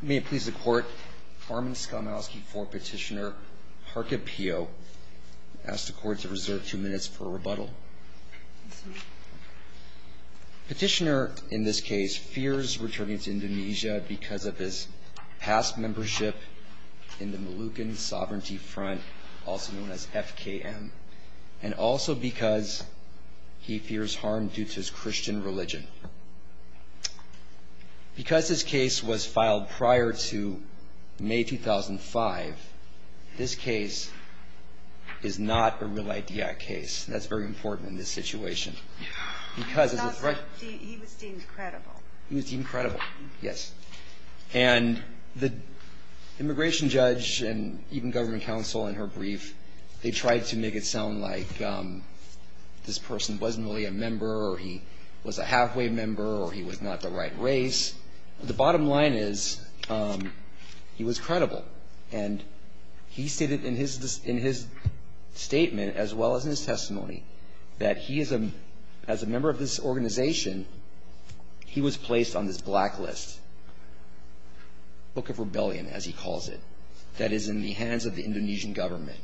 May it please the Court, Armin Skamowski v. Petitioner, Harke Pioh, ask the Court to reserve two minutes for rebuttal. Petitioner, in this case, fears returning to Indonesia because of his past membership in the Moluccan Sovereignty Front, also known as FKM, and also because he fears harm due to his Christian religion. Because this case was filed prior to May 2005, this case is not a real-idea case. That's very important in this situation. He was deemed credible. He was deemed credible, yes. And the immigration judge and even government counsel, in her brief, they tried to make it sound like this person wasn't really a member, or he was a halfway member, or he was not the right race. The bottom line is he was credible, and he stated in his statement, as well as in his testimony, that he, as a member of this organization, he was placed on this blacklist, book of rebellion, as he calls it, that is in the hands of the Indonesian government.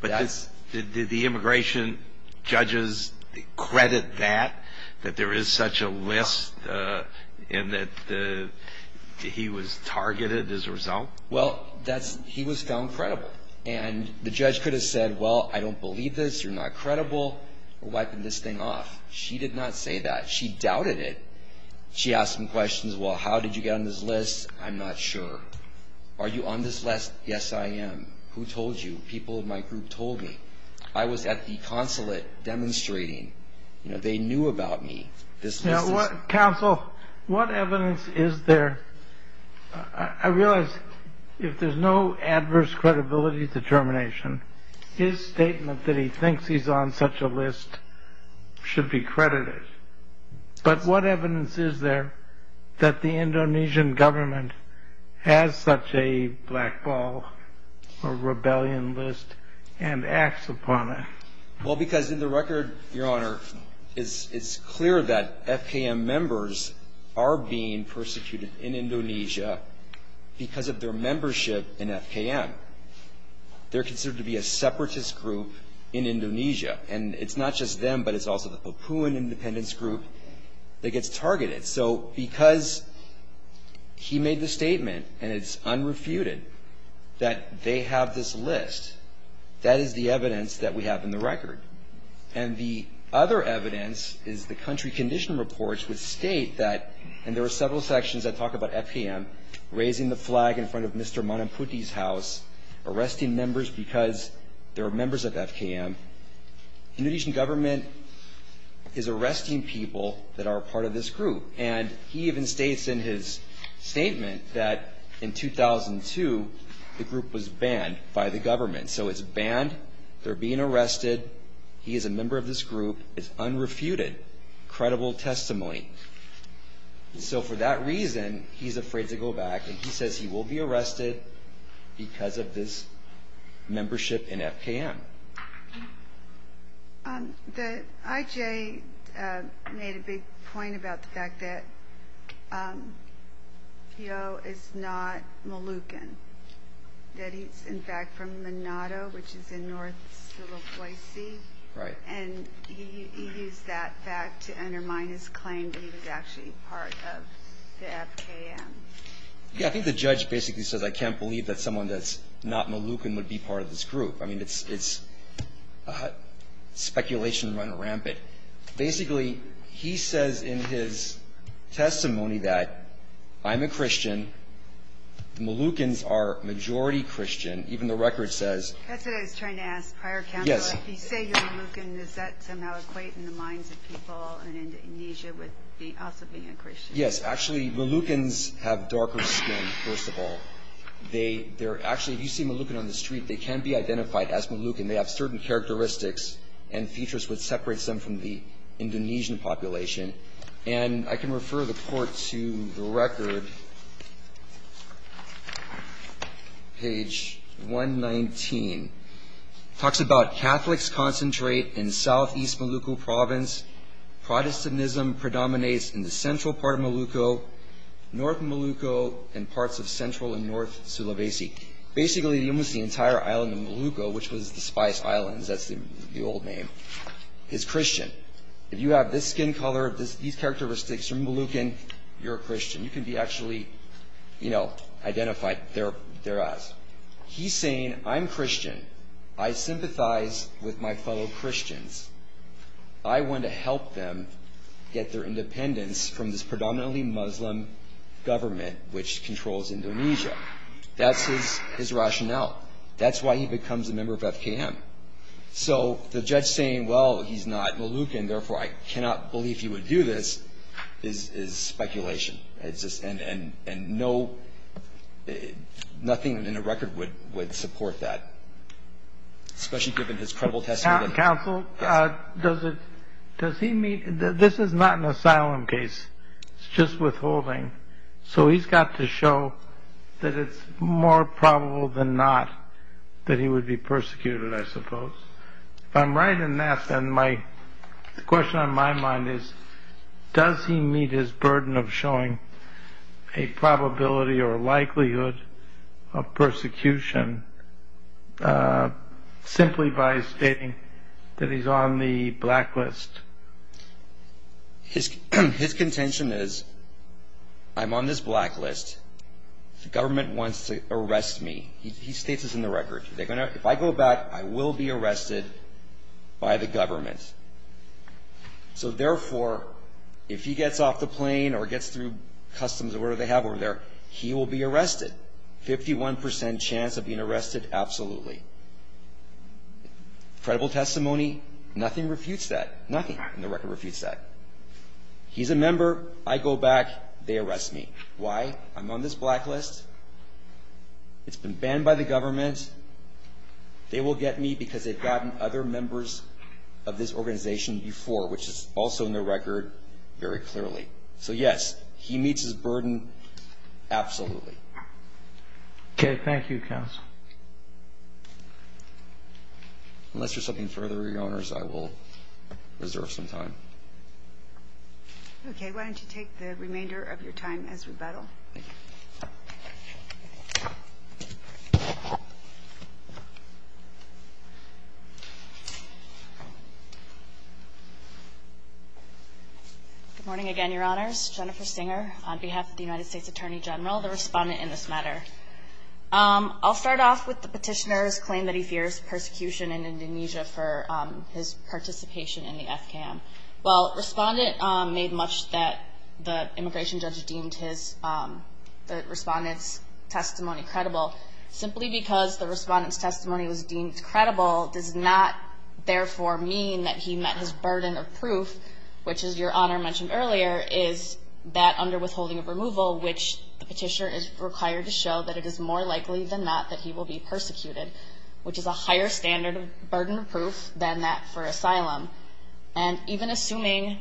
But did the immigration judges credit that, that there is such a list, and that he was targeted as a result? Well, he was found credible. And the judge could have said, well, I don't believe this. You're not credible. We're wiping this thing off. She did not say that. She doubted it. She asked him questions, well, how did you get on this list? I'm not sure. Are you on this list? Yes, I am. Who told you? People in my group told me. I was at the consulate demonstrating. You know, they knew about me. Counsel, what evidence is there? I realize if there's no adverse credibility determination, his statement that he thinks he's on such a list should be credited. But what evidence is there that the Indonesian government has such a black ball or rebellion list and acts upon it? Well, because in the record, Your Honor, it's clear that FKM members are being persecuted in Indonesia because of their membership in FKM. They're considered to be a separatist group in Indonesia. And it's not just them, but it's also the Papuan independence group that gets targeted. So because he made the statement, and it's unrefuted, that they have this list, that is the evidence that we have in the record. And the other evidence is the country condition reports which state that, and there are several sections that talk about FKM, raising the flag in front of Mr. Manaputi's house, arresting members because they're members of FKM. Indonesian government is arresting people that are part of this group. And he even states in his statement that in 2002, the group was banned by the government. So it's banned. They're being arrested. He is a member of this group. It's unrefuted, credible testimony. So for that reason, he's afraid to go back, and he says he will be arrested because of this membership in FKM. The IJ made a big point about the fact that Fio is not Moluccan, that he's in fact from Manado, which is in North Sulawesi. Right. And he used that fact to undermine his claim that he was actually part of the FKM. Yeah, I think the judge basically says I can't believe that someone that's not Moluccan would be part of this group. I mean, it's speculation running rampant. Basically, he says in his testimony that I'm a Christian. The Moluccans are majority Christian. Even the record says. That's what I was trying to ask prior counsel. So if you say you're Moluccan, does that somehow equate in the minds of people in Indonesia with also being a Christian? Yes. Actually, Moluccans have darker skin, first of all. They're actually, if you see Moluccan on the street, they can be identified as Moluccan. They have certain characteristics and features which separates them from the Indonesian population. And I can refer the court to the record. Page 119. Talks about Catholics concentrate in southeast Molucco province. Protestantism predominates in the central part of Molucco, north Molucco, and parts of central and north Sulawesi. Basically, almost the entire island of Molucco, which was the Spice Islands, that's the old name, is Christian. If you have this skin color, these characteristics, you're Moluccan, you're a Christian. You can be actually, you know, identified. They're us. He's saying, I'm Christian. I sympathize with my fellow Christians. I want to help them get their independence from this predominantly Muslim government which controls Indonesia. That's his rationale. That's why he becomes a member of FKM. So the judge saying, well, he's not Moluccan, therefore I cannot believe he would do this, is speculation. And no, nothing in the record would support that, especially given his credible testimony. Counsel, does it, does he meet, this is not an asylum case. It's just withholding. So he's got to show that it's more probable than not that he would be persecuted, I suppose. If I'm right in that, then my, the question on my mind is, does he meet his burden of showing a probability or likelihood of persecution simply by stating that he's on the blacklist? His contention is, I'm on this blacklist. The government wants to arrest me. He states this in the record. If I go back, I will be arrested by the government. So therefore, if he gets off the plane or gets through customs or whatever they have over there, he will be arrested. 51% chance of being arrested, absolutely. Credible testimony, nothing refutes that. Nothing in the record refutes that. He's a member. I go back. They arrest me. Why? I'm on this blacklist. It's been banned by the government. They will get me because they've gotten other members of this organization before, which is also in the record very clearly. So, yes, he meets his burden, absolutely. Okay. Thank you, Counsel. Unless there's something further, Your Honors, I will reserve some time. Okay. Why don't you take the remainder of your time as rebuttal? Good morning again, Your Honors. Jennifer Singer on behalf of the United States Attorney General, the Respondent in this matter. I'll start off with the petitioner's claim that he fears persecution in Indonesia for his participation in the FCAM. Well, Respondent made much that the immigration judge deemed the Respondent's testimony credible. Simply because the Respondent's testimony was deemed credible does not, therefore, mean that he met his burden of proof, which, as Your Honor mentioned earlier, is that under withholding of removal, which the petitioner is required to show that it is more likely than not that he will be persecuted, which is a higher standard of burden of proof than that for asylum. And even assuming,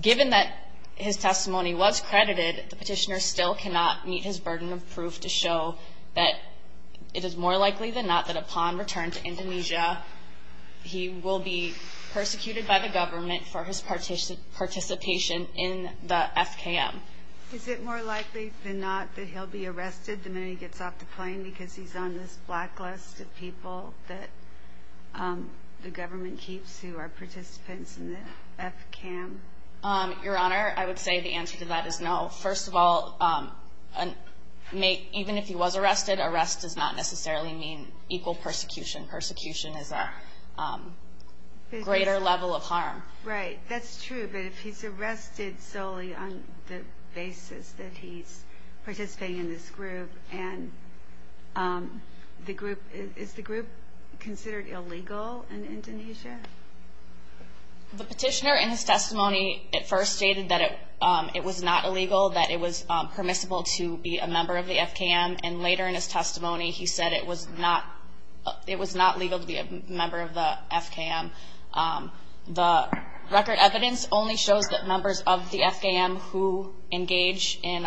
given that his testimony was credited, the petitioner still cannot meet his burden of proof to show that it is more likely than not that upon return to Indonesia he will be persecuted by the government for his participation in the FCAM. Is it more likely than not that he'll be arrested the minute he gets off the plane because he's on this blacklist of people that the government keeps who are participants in the FCAM? Your Honor, I would say the answer to that is no. First of all, even if he was arrested, arrest does not necessarily mean equal persecution. Persecution is a greater level of harm. Right. That's true. But if he's arrested solely on the basis that he's participating in this group, is the group considered illegal in Indonesia? The petitioner in his testimony at first stated that it was not illegal, that it was permissible to be a member of the FKM, and later in his testimony he said it was not legal to be a member of the FKM. The record evidence only shows that members of the FKM who engage in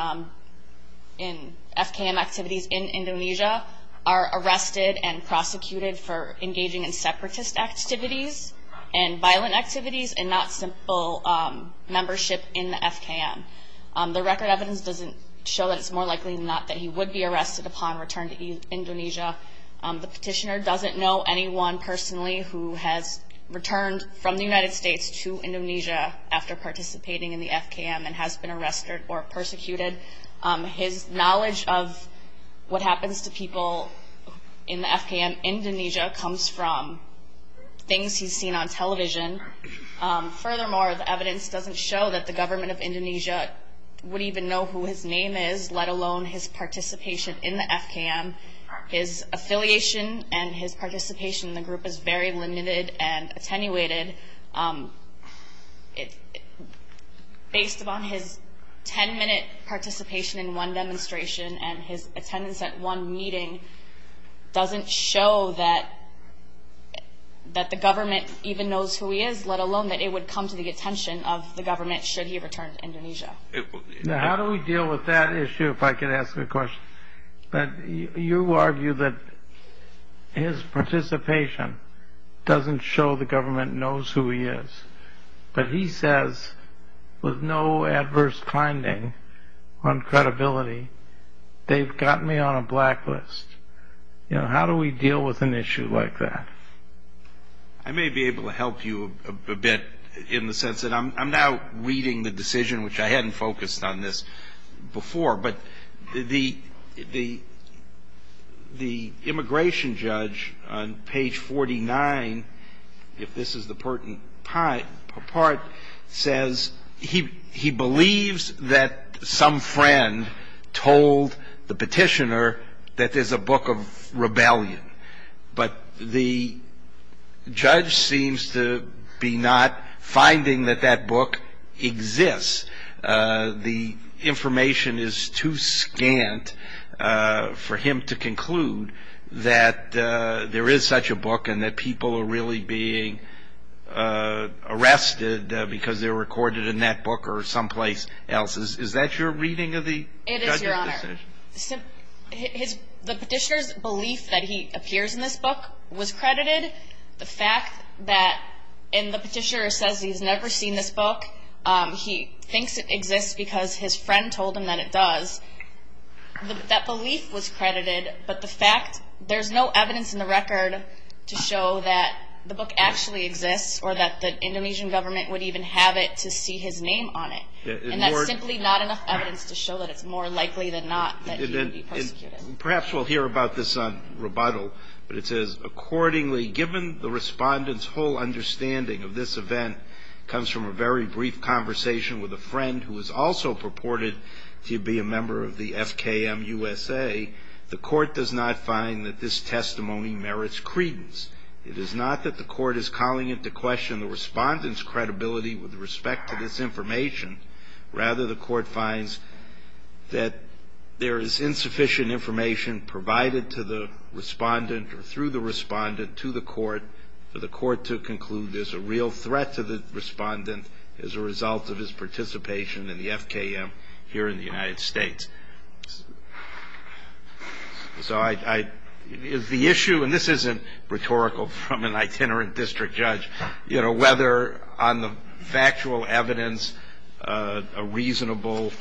FKM activities in Indonesia are arrested and prosecuted for engaging in separatist activities and violent activities and not simple membership in the FKM. The record evidence doesn't show that it's more likely than not that he would be arrested upon return to Indonesia. The petitioner doesn't know anyone personally who has returned from the United States to Indonesia after participating in the FKM and has been arrested or persecuted. His knowledge of what happens to people in the FKM in Indonesia comes from things he's seen on television. Furthermore, the evidence doesn't show that the government of Indonesia would even know who his name is, let alone his participation in the FKM. His affiliation and his participation in the group is very limited and attenuated. Based upon his 10-minute participation in one demonstration and his attendance at one meeting doesn't show that the government even knows who he is, let alone that it would come to the attention of the government should he return to Indonesia. How do we deal with that issue, if I could ask a question? You argue that his participation doesn't show the government knows who he is, but he says with no adverse finding on credibility, they've got me on a blacklist. How do we deal with an issue like that? I may be able to help you a bit in the sense that I'm now reading the decision, which I hadn't focused on this before, but the immigration judge on page 49, if this is the pertinent part, says he believes that some friend told the petitioner that there's a book of rebellion, but the judge seems to be not finding that that book exists. The information is too scant for him to conclude that there is such a book and that people are really being arrested because they're recorded in that book or someplace else. Is that your reading of the judge's decision? It is, Your Honor. The petitioner's belief that he appears in this book was credited. The fact that the petitioner says he's never seen this book, he thinks it exists because his friend told him that it does. That belief was credited, but there's no evidence in the record to show that the book actually exists or that the Indonesian government would even have it to see his name on it. And that's simply not enough evidence to show that it's more likely than not that he would be persecuted. Perhaps we'll hear about this on rebuttal, but it says, accordingly given the respondent's whole understanding of this event comes from a very brief conversation with a friend who is also purported to be a member of the FKM USA, the court does not find that this testimony merits credence. It is not that the court is calling into question the respondent's credibility with respect to this information. Rather, the court finds that there is insufficient information provided to the respondent or through the respondent to the court for the court to conclude there's a real threat to the respondent as a result of his participation in the FKM here in the United States. So I, is the issue, and this isn't rhetorical from an itinerant district judge, you know, whether on the factual evidence a reasonable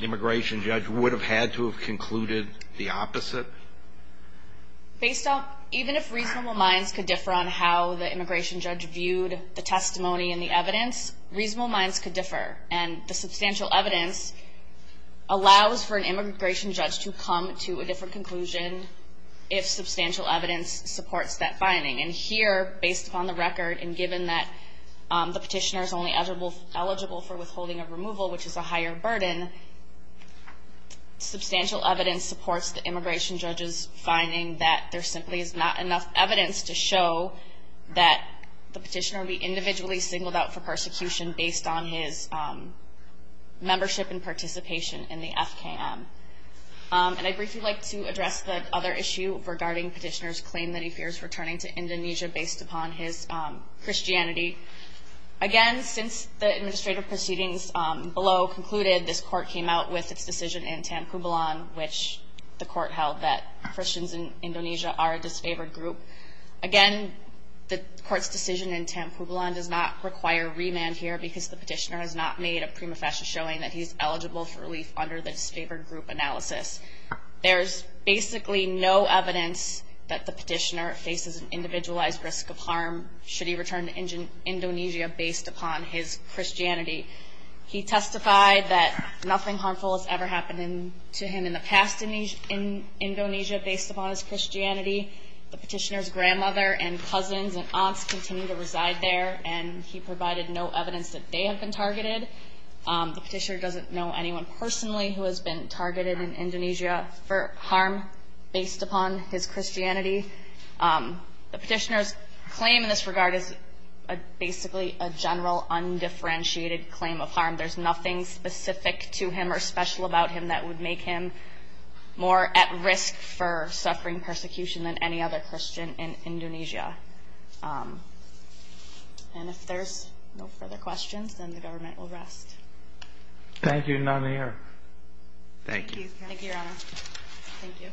immigration judge would have had to have concluded the opposite? Based on, even if reasonable minds could differ on how the immigration judge viewed the testimony and the evidence, reasonable minds could differ. And the substantial evidence allows for an immigration judge to come to a different conclusion if substantial evidence supports that finding. And here, based upon the record and given that the petitioner is only eligible for withholding of removal, which is a higher burden, substantial evidence supports the immigration judge's finding that there simply is not enough evidence to show that the petitioner would be individually singled out for persecution based on his membership and participation in the FKM. And I'd briefly like to address the other issue regarding petitioner's claim that he fears returning to Indonesia based upon his Christianity. Again, since the administrative proceedings below concluded, this court came out with its decision in Tanpubilan, which the court held that Christians in Indonesia are a disfavored group. Again, the court's decision in Tanpubilan does not require remand here because the petitioner has not made a prima facie showing that he's eligible for relief under the disfavored group analysis. There's basically no evidence that the petitioner faces an individualized risk of harm should he return to Indonesia based upon his Christianity. He testified that nothing harmful has ever happened to him in the past in Indonesia based upon his Christianity. The petitioner's grandmother and cousins and aunts continue to reside there, and he provided no evidence that they have been targeted. The petitioner doesn't know anyone personally who has been targeted in Indonesia for harm based upon his Christianity. The petitioner's claim in this regard is basically a general undifferentiated claim of harm. There's nothing specific to him or special about him that would make him more at risk for suffering persecution than any other Christian in Indonesia. And if there's no further questions, then the government will rest. Thank you, Your Honor. Thank you. Thank you, Your Honor. Thank you.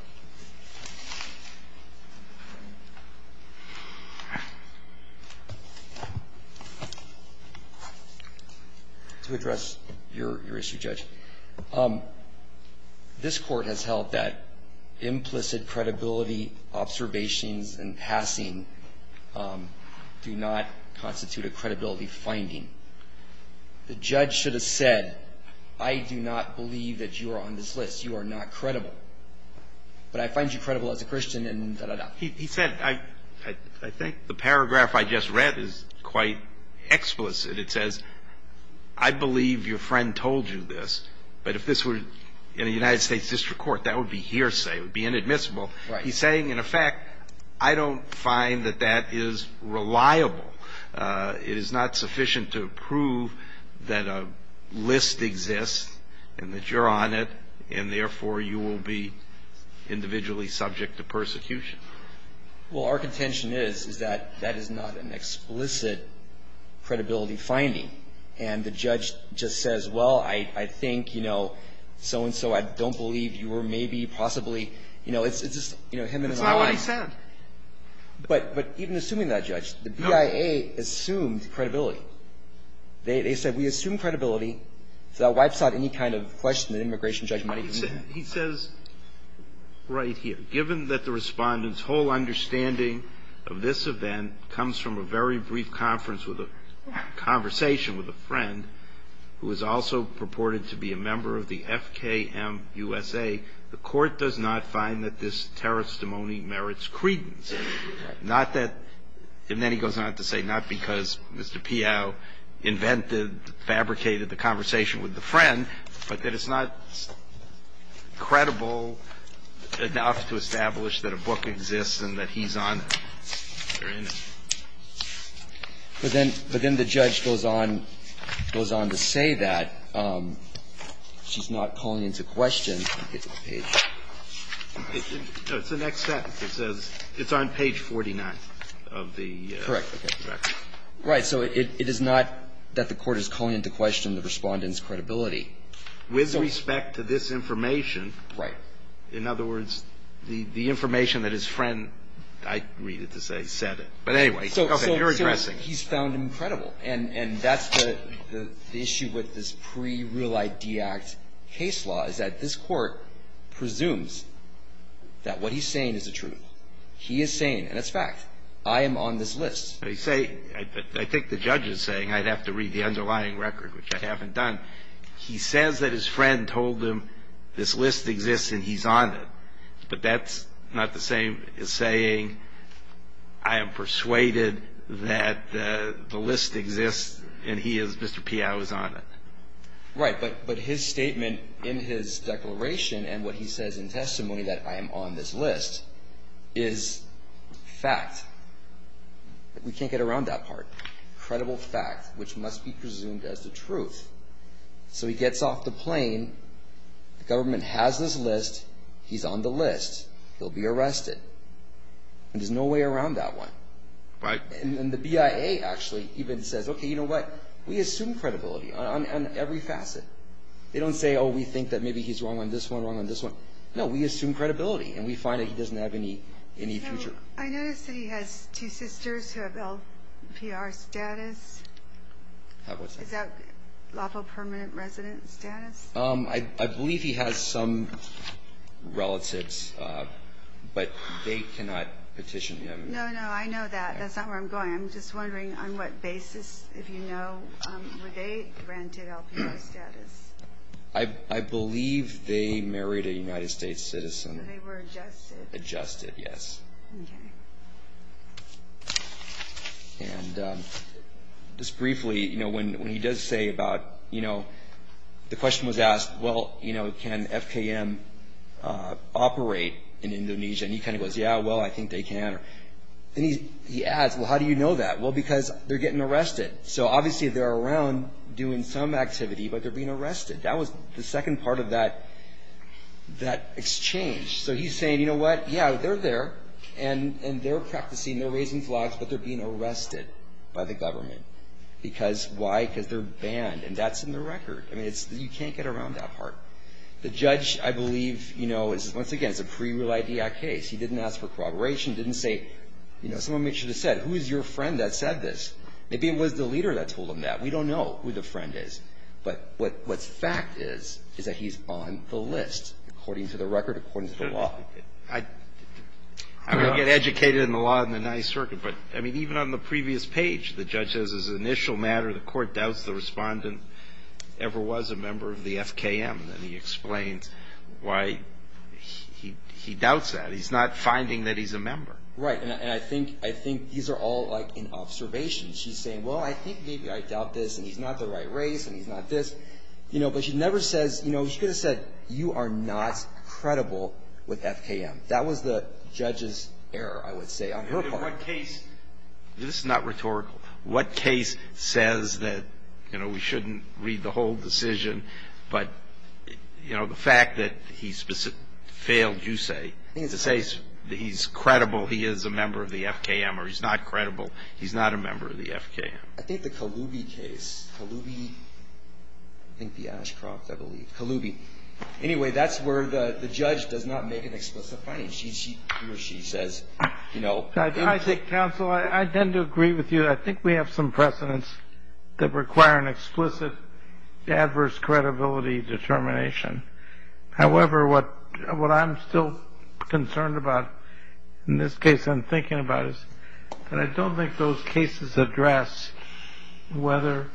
To address your issue, Judge, this Court has held that implicit credibility observations and passing do not constitute a credibility finding. The judge should have said, I do not believe that you are on this list. You are not credible. But I find you credible as a Christian and da-da-da. He said, I think the paragraph I just read is quite explicit. It says, I believe your friend told you this. But if this were in a United States district court, that would be hearsay. It would be inadmissible. He's saying, in effect, I don't find that that is reliable. It is not sufficient to prove that a list exists and that you're on it, and, therefore, you will be individually subject to persecution. Well, our contention is, is that that is not an explicit credibility finding. And the judge just says, well, I think, you know, so-and-so, I don't believe you were maybe possibly, you know, it's just him and my wife. That's not what he said. But even assuming that, Judge, the BIA assumed credibility. They said, we assume credibility. So that wipes out any kind of question that an immigration judge might have. He says right here, given that the Respondent's whole understanding of this event comes from a very brief conference with a conversation with a friend who is also purported to be a member of the FKM USA, the Court does not find that this terrorist testimony merits credence. Not that, and then he goes on to say, not because Mr. Pio invented, fabricated the conversation with the friend, but that it's not credible enough to establish that a book exists and that he's on it. Very nice. But then the judge goes on to say that. And then he goes on to say that the court is not calling into question the Respondent's And then he goes on to say that she's not calling into question the page. It's the next sentence. It says it's on page 49 of the record. Correct. Right. So it is not that the Court is calling into question the Respondent's credibility. With respect to this information. Right. In other words, the information that his friend, I read it to say, said it. But anyway. Okay. You're addressing. He's found incredible. And that's the issue with this pre-Real ID Act case law is that this Court presumes that what he's saying is the truth. He is saying, and it's fact, I am on this list. I think the judge is saying I'd have to read the underlying record, which I haven't done. He says that his friend told him this list exists and he's on it. But that's not the same as saying I am persuaded that the list exists and he is, Mr. Piau, is on it. Right. But his statement in his declaration and what he says in testimony that I am on this list is fact. We can't get around that part. Credible fact, which must be presumed as the truth. So he gets off the plane. The government has this list. He's on the list. He'll be arrested. And there's no way around that one. Right. And the BIA actually even says, okay, you know what? We assume credibility on every facet. They don't say, oh, we think that maybe he's wrong on this one, wrong on this one. No, we assume credibility and we find that he doesn't have any future. I noticed that he has two sisters who have LPR status. What's that? Is that lawful permanent resident status? I believe he has some relatives, but they cannot petition him. No, no, I know that. That's not where I'm going. I'm just wondering on what basis, if you know, were they granted LPR status. I believe they married a United States citizen. They were adjusted. Adjusted, yes. Okay. And just briefly, you know, when he does say about, you know, the question was asked, well, you know, can FKM operate in Indonesia? And he kind of goes, yeah, well, I think they can. And he adds, well, how do you know that? Well, because they're getting arrested. So obviously they're around doing some activity, but they're being arrested. That was the second part of that exchange. So he's saying, you know what, yeah, they're there, and they're practicing, they're raising flags, but they're being arrested by the government. Because why? Because they're banned. And that's in the record. I mean, you can't get around that part. The judge, I believe, you know, once again, it's a pre-real ID act case. He didn't ask for corroboration. He didn't say, you know, someone should have said, who is your friend that said this? Maybe it was the leader that told him that. We don't know who the friend is. But what's fact is, is that he's on the list, according to the record, according to the law. I don't get educated in the law in the Ninth Circuit, but, I mean, even on the previous page, the judge says as an initial matter, the court doubts the respondent ever was a member of the FKM. And he explains why he doubts that. He's not finding that he's a member. Right. And I think these are all like an observation. She's saying, well, I think maybe I doubt this, and he's not the right race, and he's not this. You know, but she never says, you know, she could have said, you are not credible with FKM. That was the judge's error, I would say, on her part. In what case, this is not rhetorical, what case says that, you know, we shouldn't read the whole decision, but, you know, the fact that he failed, you say, to say he's credible, he is a member of the FKM, or he's not credible, he's not a member of the FKM. I think the Kaloubi case, Kaloubi, I think the Ashcroft, I believe. Kaloubi. Anyway, that's where the judge does not make an explicit finding. She says, you know. Counsel, I tend to agree with you. I think we have some precedents that require an explicit adverse credibility determination. However, what I'm still concerned about, in this case I'm thinking about, is that I don't think those cases address whether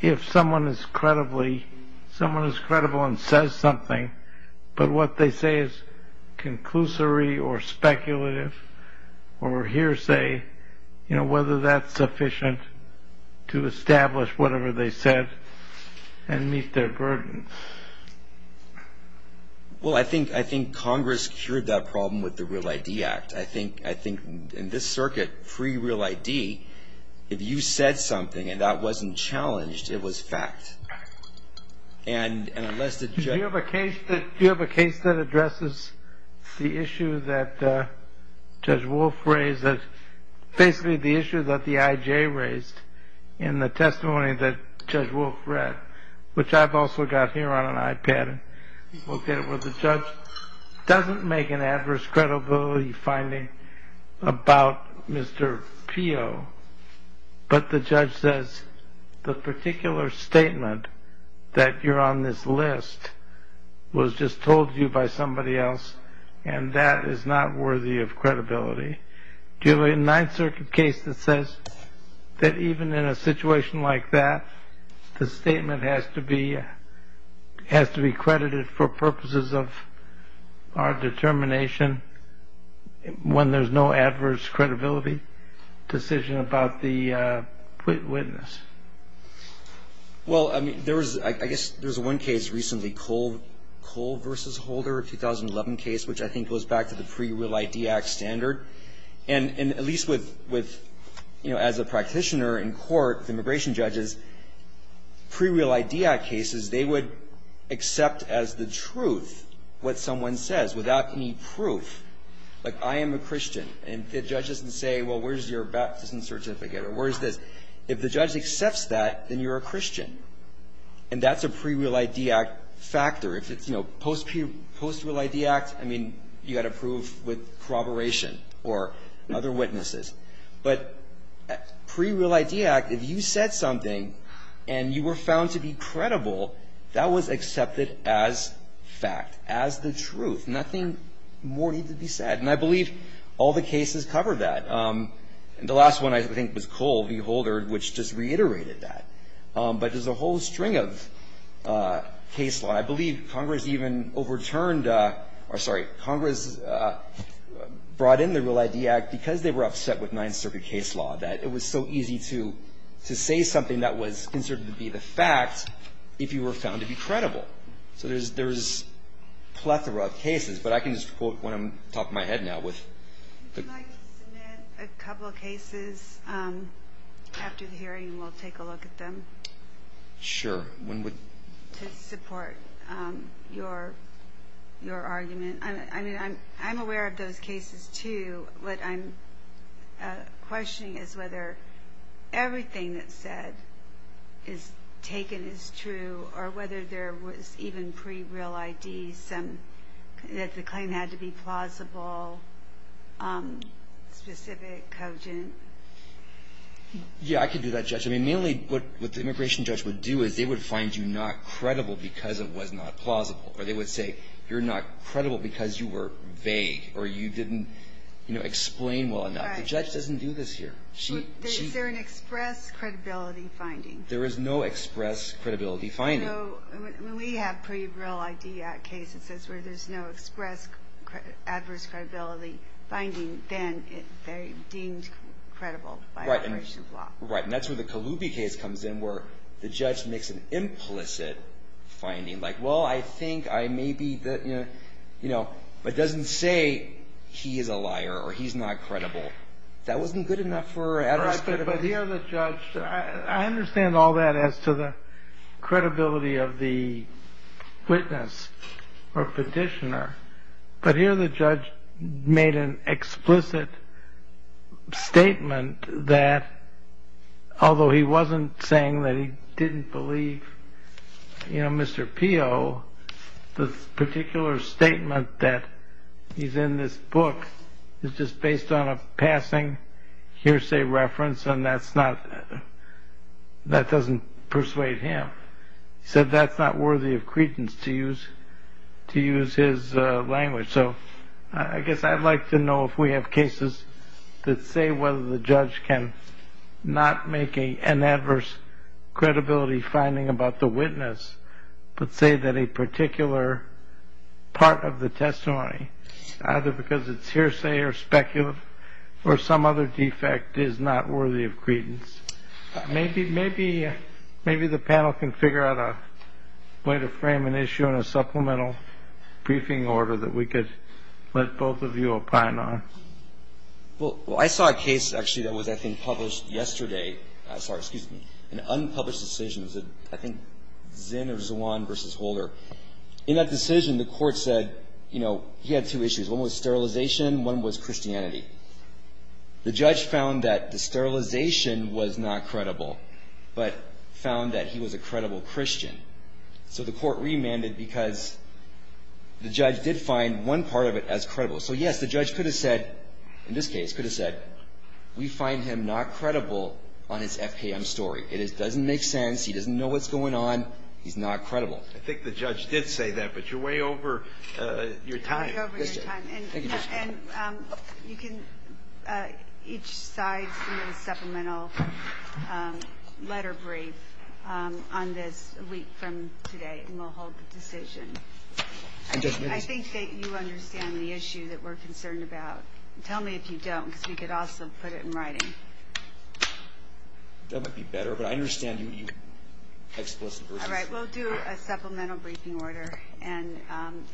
if someone is credibly, someone is credible and says something, but what they say is conclusory or speculative or hearsay, you know, whether that's sufficient to establish whatever they said and meet their burden. Well, I think Congress cured that problem with the Real ID Act. I think in this circuit, pre-Real ID, if you said something and that wasn't challenged, it was fact. Do you have a case that addresses the issue that Judge Wolf raised, basically the issue that the IJ raised in the testimony that Judge Wolf read, which I've also got here on an iPad, where the judge doesn't make an adverse credibility finding about Mr. Pio, but the judge says the particular statement that you're on this list was just told to you by somebody else and that is not worthy of credibility? Do you have a Ninth Circuit case that says that even in a situation like that, the statement has to be credited for purposes of our determination when there's no adverse credibility decision about the witness? Well, I guess there's one case recently, Cole v. Holder, a 2011 case, which I think goes back to the pre-Real ID Act standard, and at least as a practitioner in court, immigration judges, pre-Real ID Act cases, they would accept as the truth what someone says without any proof. Like, I am a Christian, and the judge doesn't say, well, where's your baptism certificate or where's this? If the judge accepts that, then you're a Christian, and that's a pre-Real ID Act factor. If it's post-Real ID Act, I mean, you've got to prove with corroboration or other witnesses. But pre-Real ID Act, if you said something and you were found to be credible, that was accepted as fact, as the truth. Nothing more needed to be said. And I believe all the cases cover that. And the last one, I think, was Cole v. Holder, which just reiterated that. But there's a whole string of cases. I believe Congress even overturned or, sorry, Congress brought in the Real ID Act because they were upset with Ninth Circuit case law, that it was so easy to say something that was considered to be the fact if you were found to be credible. So there's a plethora of cases. But I can just quote one off the top of my head now. Would you like to submit a couple of cases after the hearing, and we'll take a look at them? Sure. To support your argument. I mean, I'm aware of those cases, too. What I'm questioning is whether everything that's said is taken as true, or whether there was even pre-Real ID that the claim had to be plausible, specific, cogent. Yeah, I could do that, Judge. I mean, mainly what the immigration judge would do is they would find you not credible because it was not plausible. Or they would say you're not credible because you were vague, or you didn't explain well enough. The judge doesn't do this here. Is there an express credibility finding? There is no express credibility finding. When we have pre-Real ID Act cases where there's no express adverse credibility finding, then they're deemed credible by immigration law. Right. And that's where the Colubi case comes in, where the judge makes an implicit finding. Like, well, I think I may be the, you know, but doesn't say he is a liar or he's not credible. That wasn't good enough for adverse credibility. But here the judge, I understand all that as to the credibility of the witness or petitioner, but here the judge made an explicit statement that, although he wasn't saying that he didn't believe, you know, Mr. Pio, the particular statement that is in this book is just based on a passing hearsay reference, and that doesn't persuade him. He said that's not worthy of credence to use his language. So I guess I'd like to know if we have cases that say whether the judge can not make an adverse credibility finding about the witness but say that a particular part of the testimony, either because it's hearsay or speculative or some other defect, is not worthy of credence. Maybe the panel can figure out a way to frame an issue in a supplemental briefing order that we could let both of you opine on. Well, I saw a case, actually, that was, I think, published yesterday. I'm sorry. Excuse me. An unpublished decision. I think Zinn or Zwan v. Holder. In that decision, the court said, you know, he had two issues. One was sterilization. One was Christianity. The judge found that the sterilization was not credible but found that he was a credible Christian. So the court remanded because the judge did find one part of it as credible. So, yes, the judge could have said, in this case, could have said, we find him not credible on his FKM story. It doesn't make sense. He doesn't know what's going on. He's not credible. I think the judge did say that, but you're way over your time. Way over your time. Thank you, Justice Breyer. And you can each side submit a supplemental letter brief on this a week from today, and we'll hold the decision. I think that you understand the issue that we're concerned about. Tell me if you don't because we could also put it in writing. That would be better, but I understand you explicitly. All right, we'll do a supplemental briefing order, and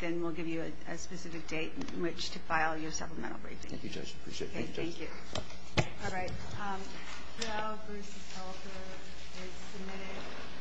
then we'll give you a specific date in which to file your supplemental briefing. Thank you, Judge. Appreciate it. Thank you.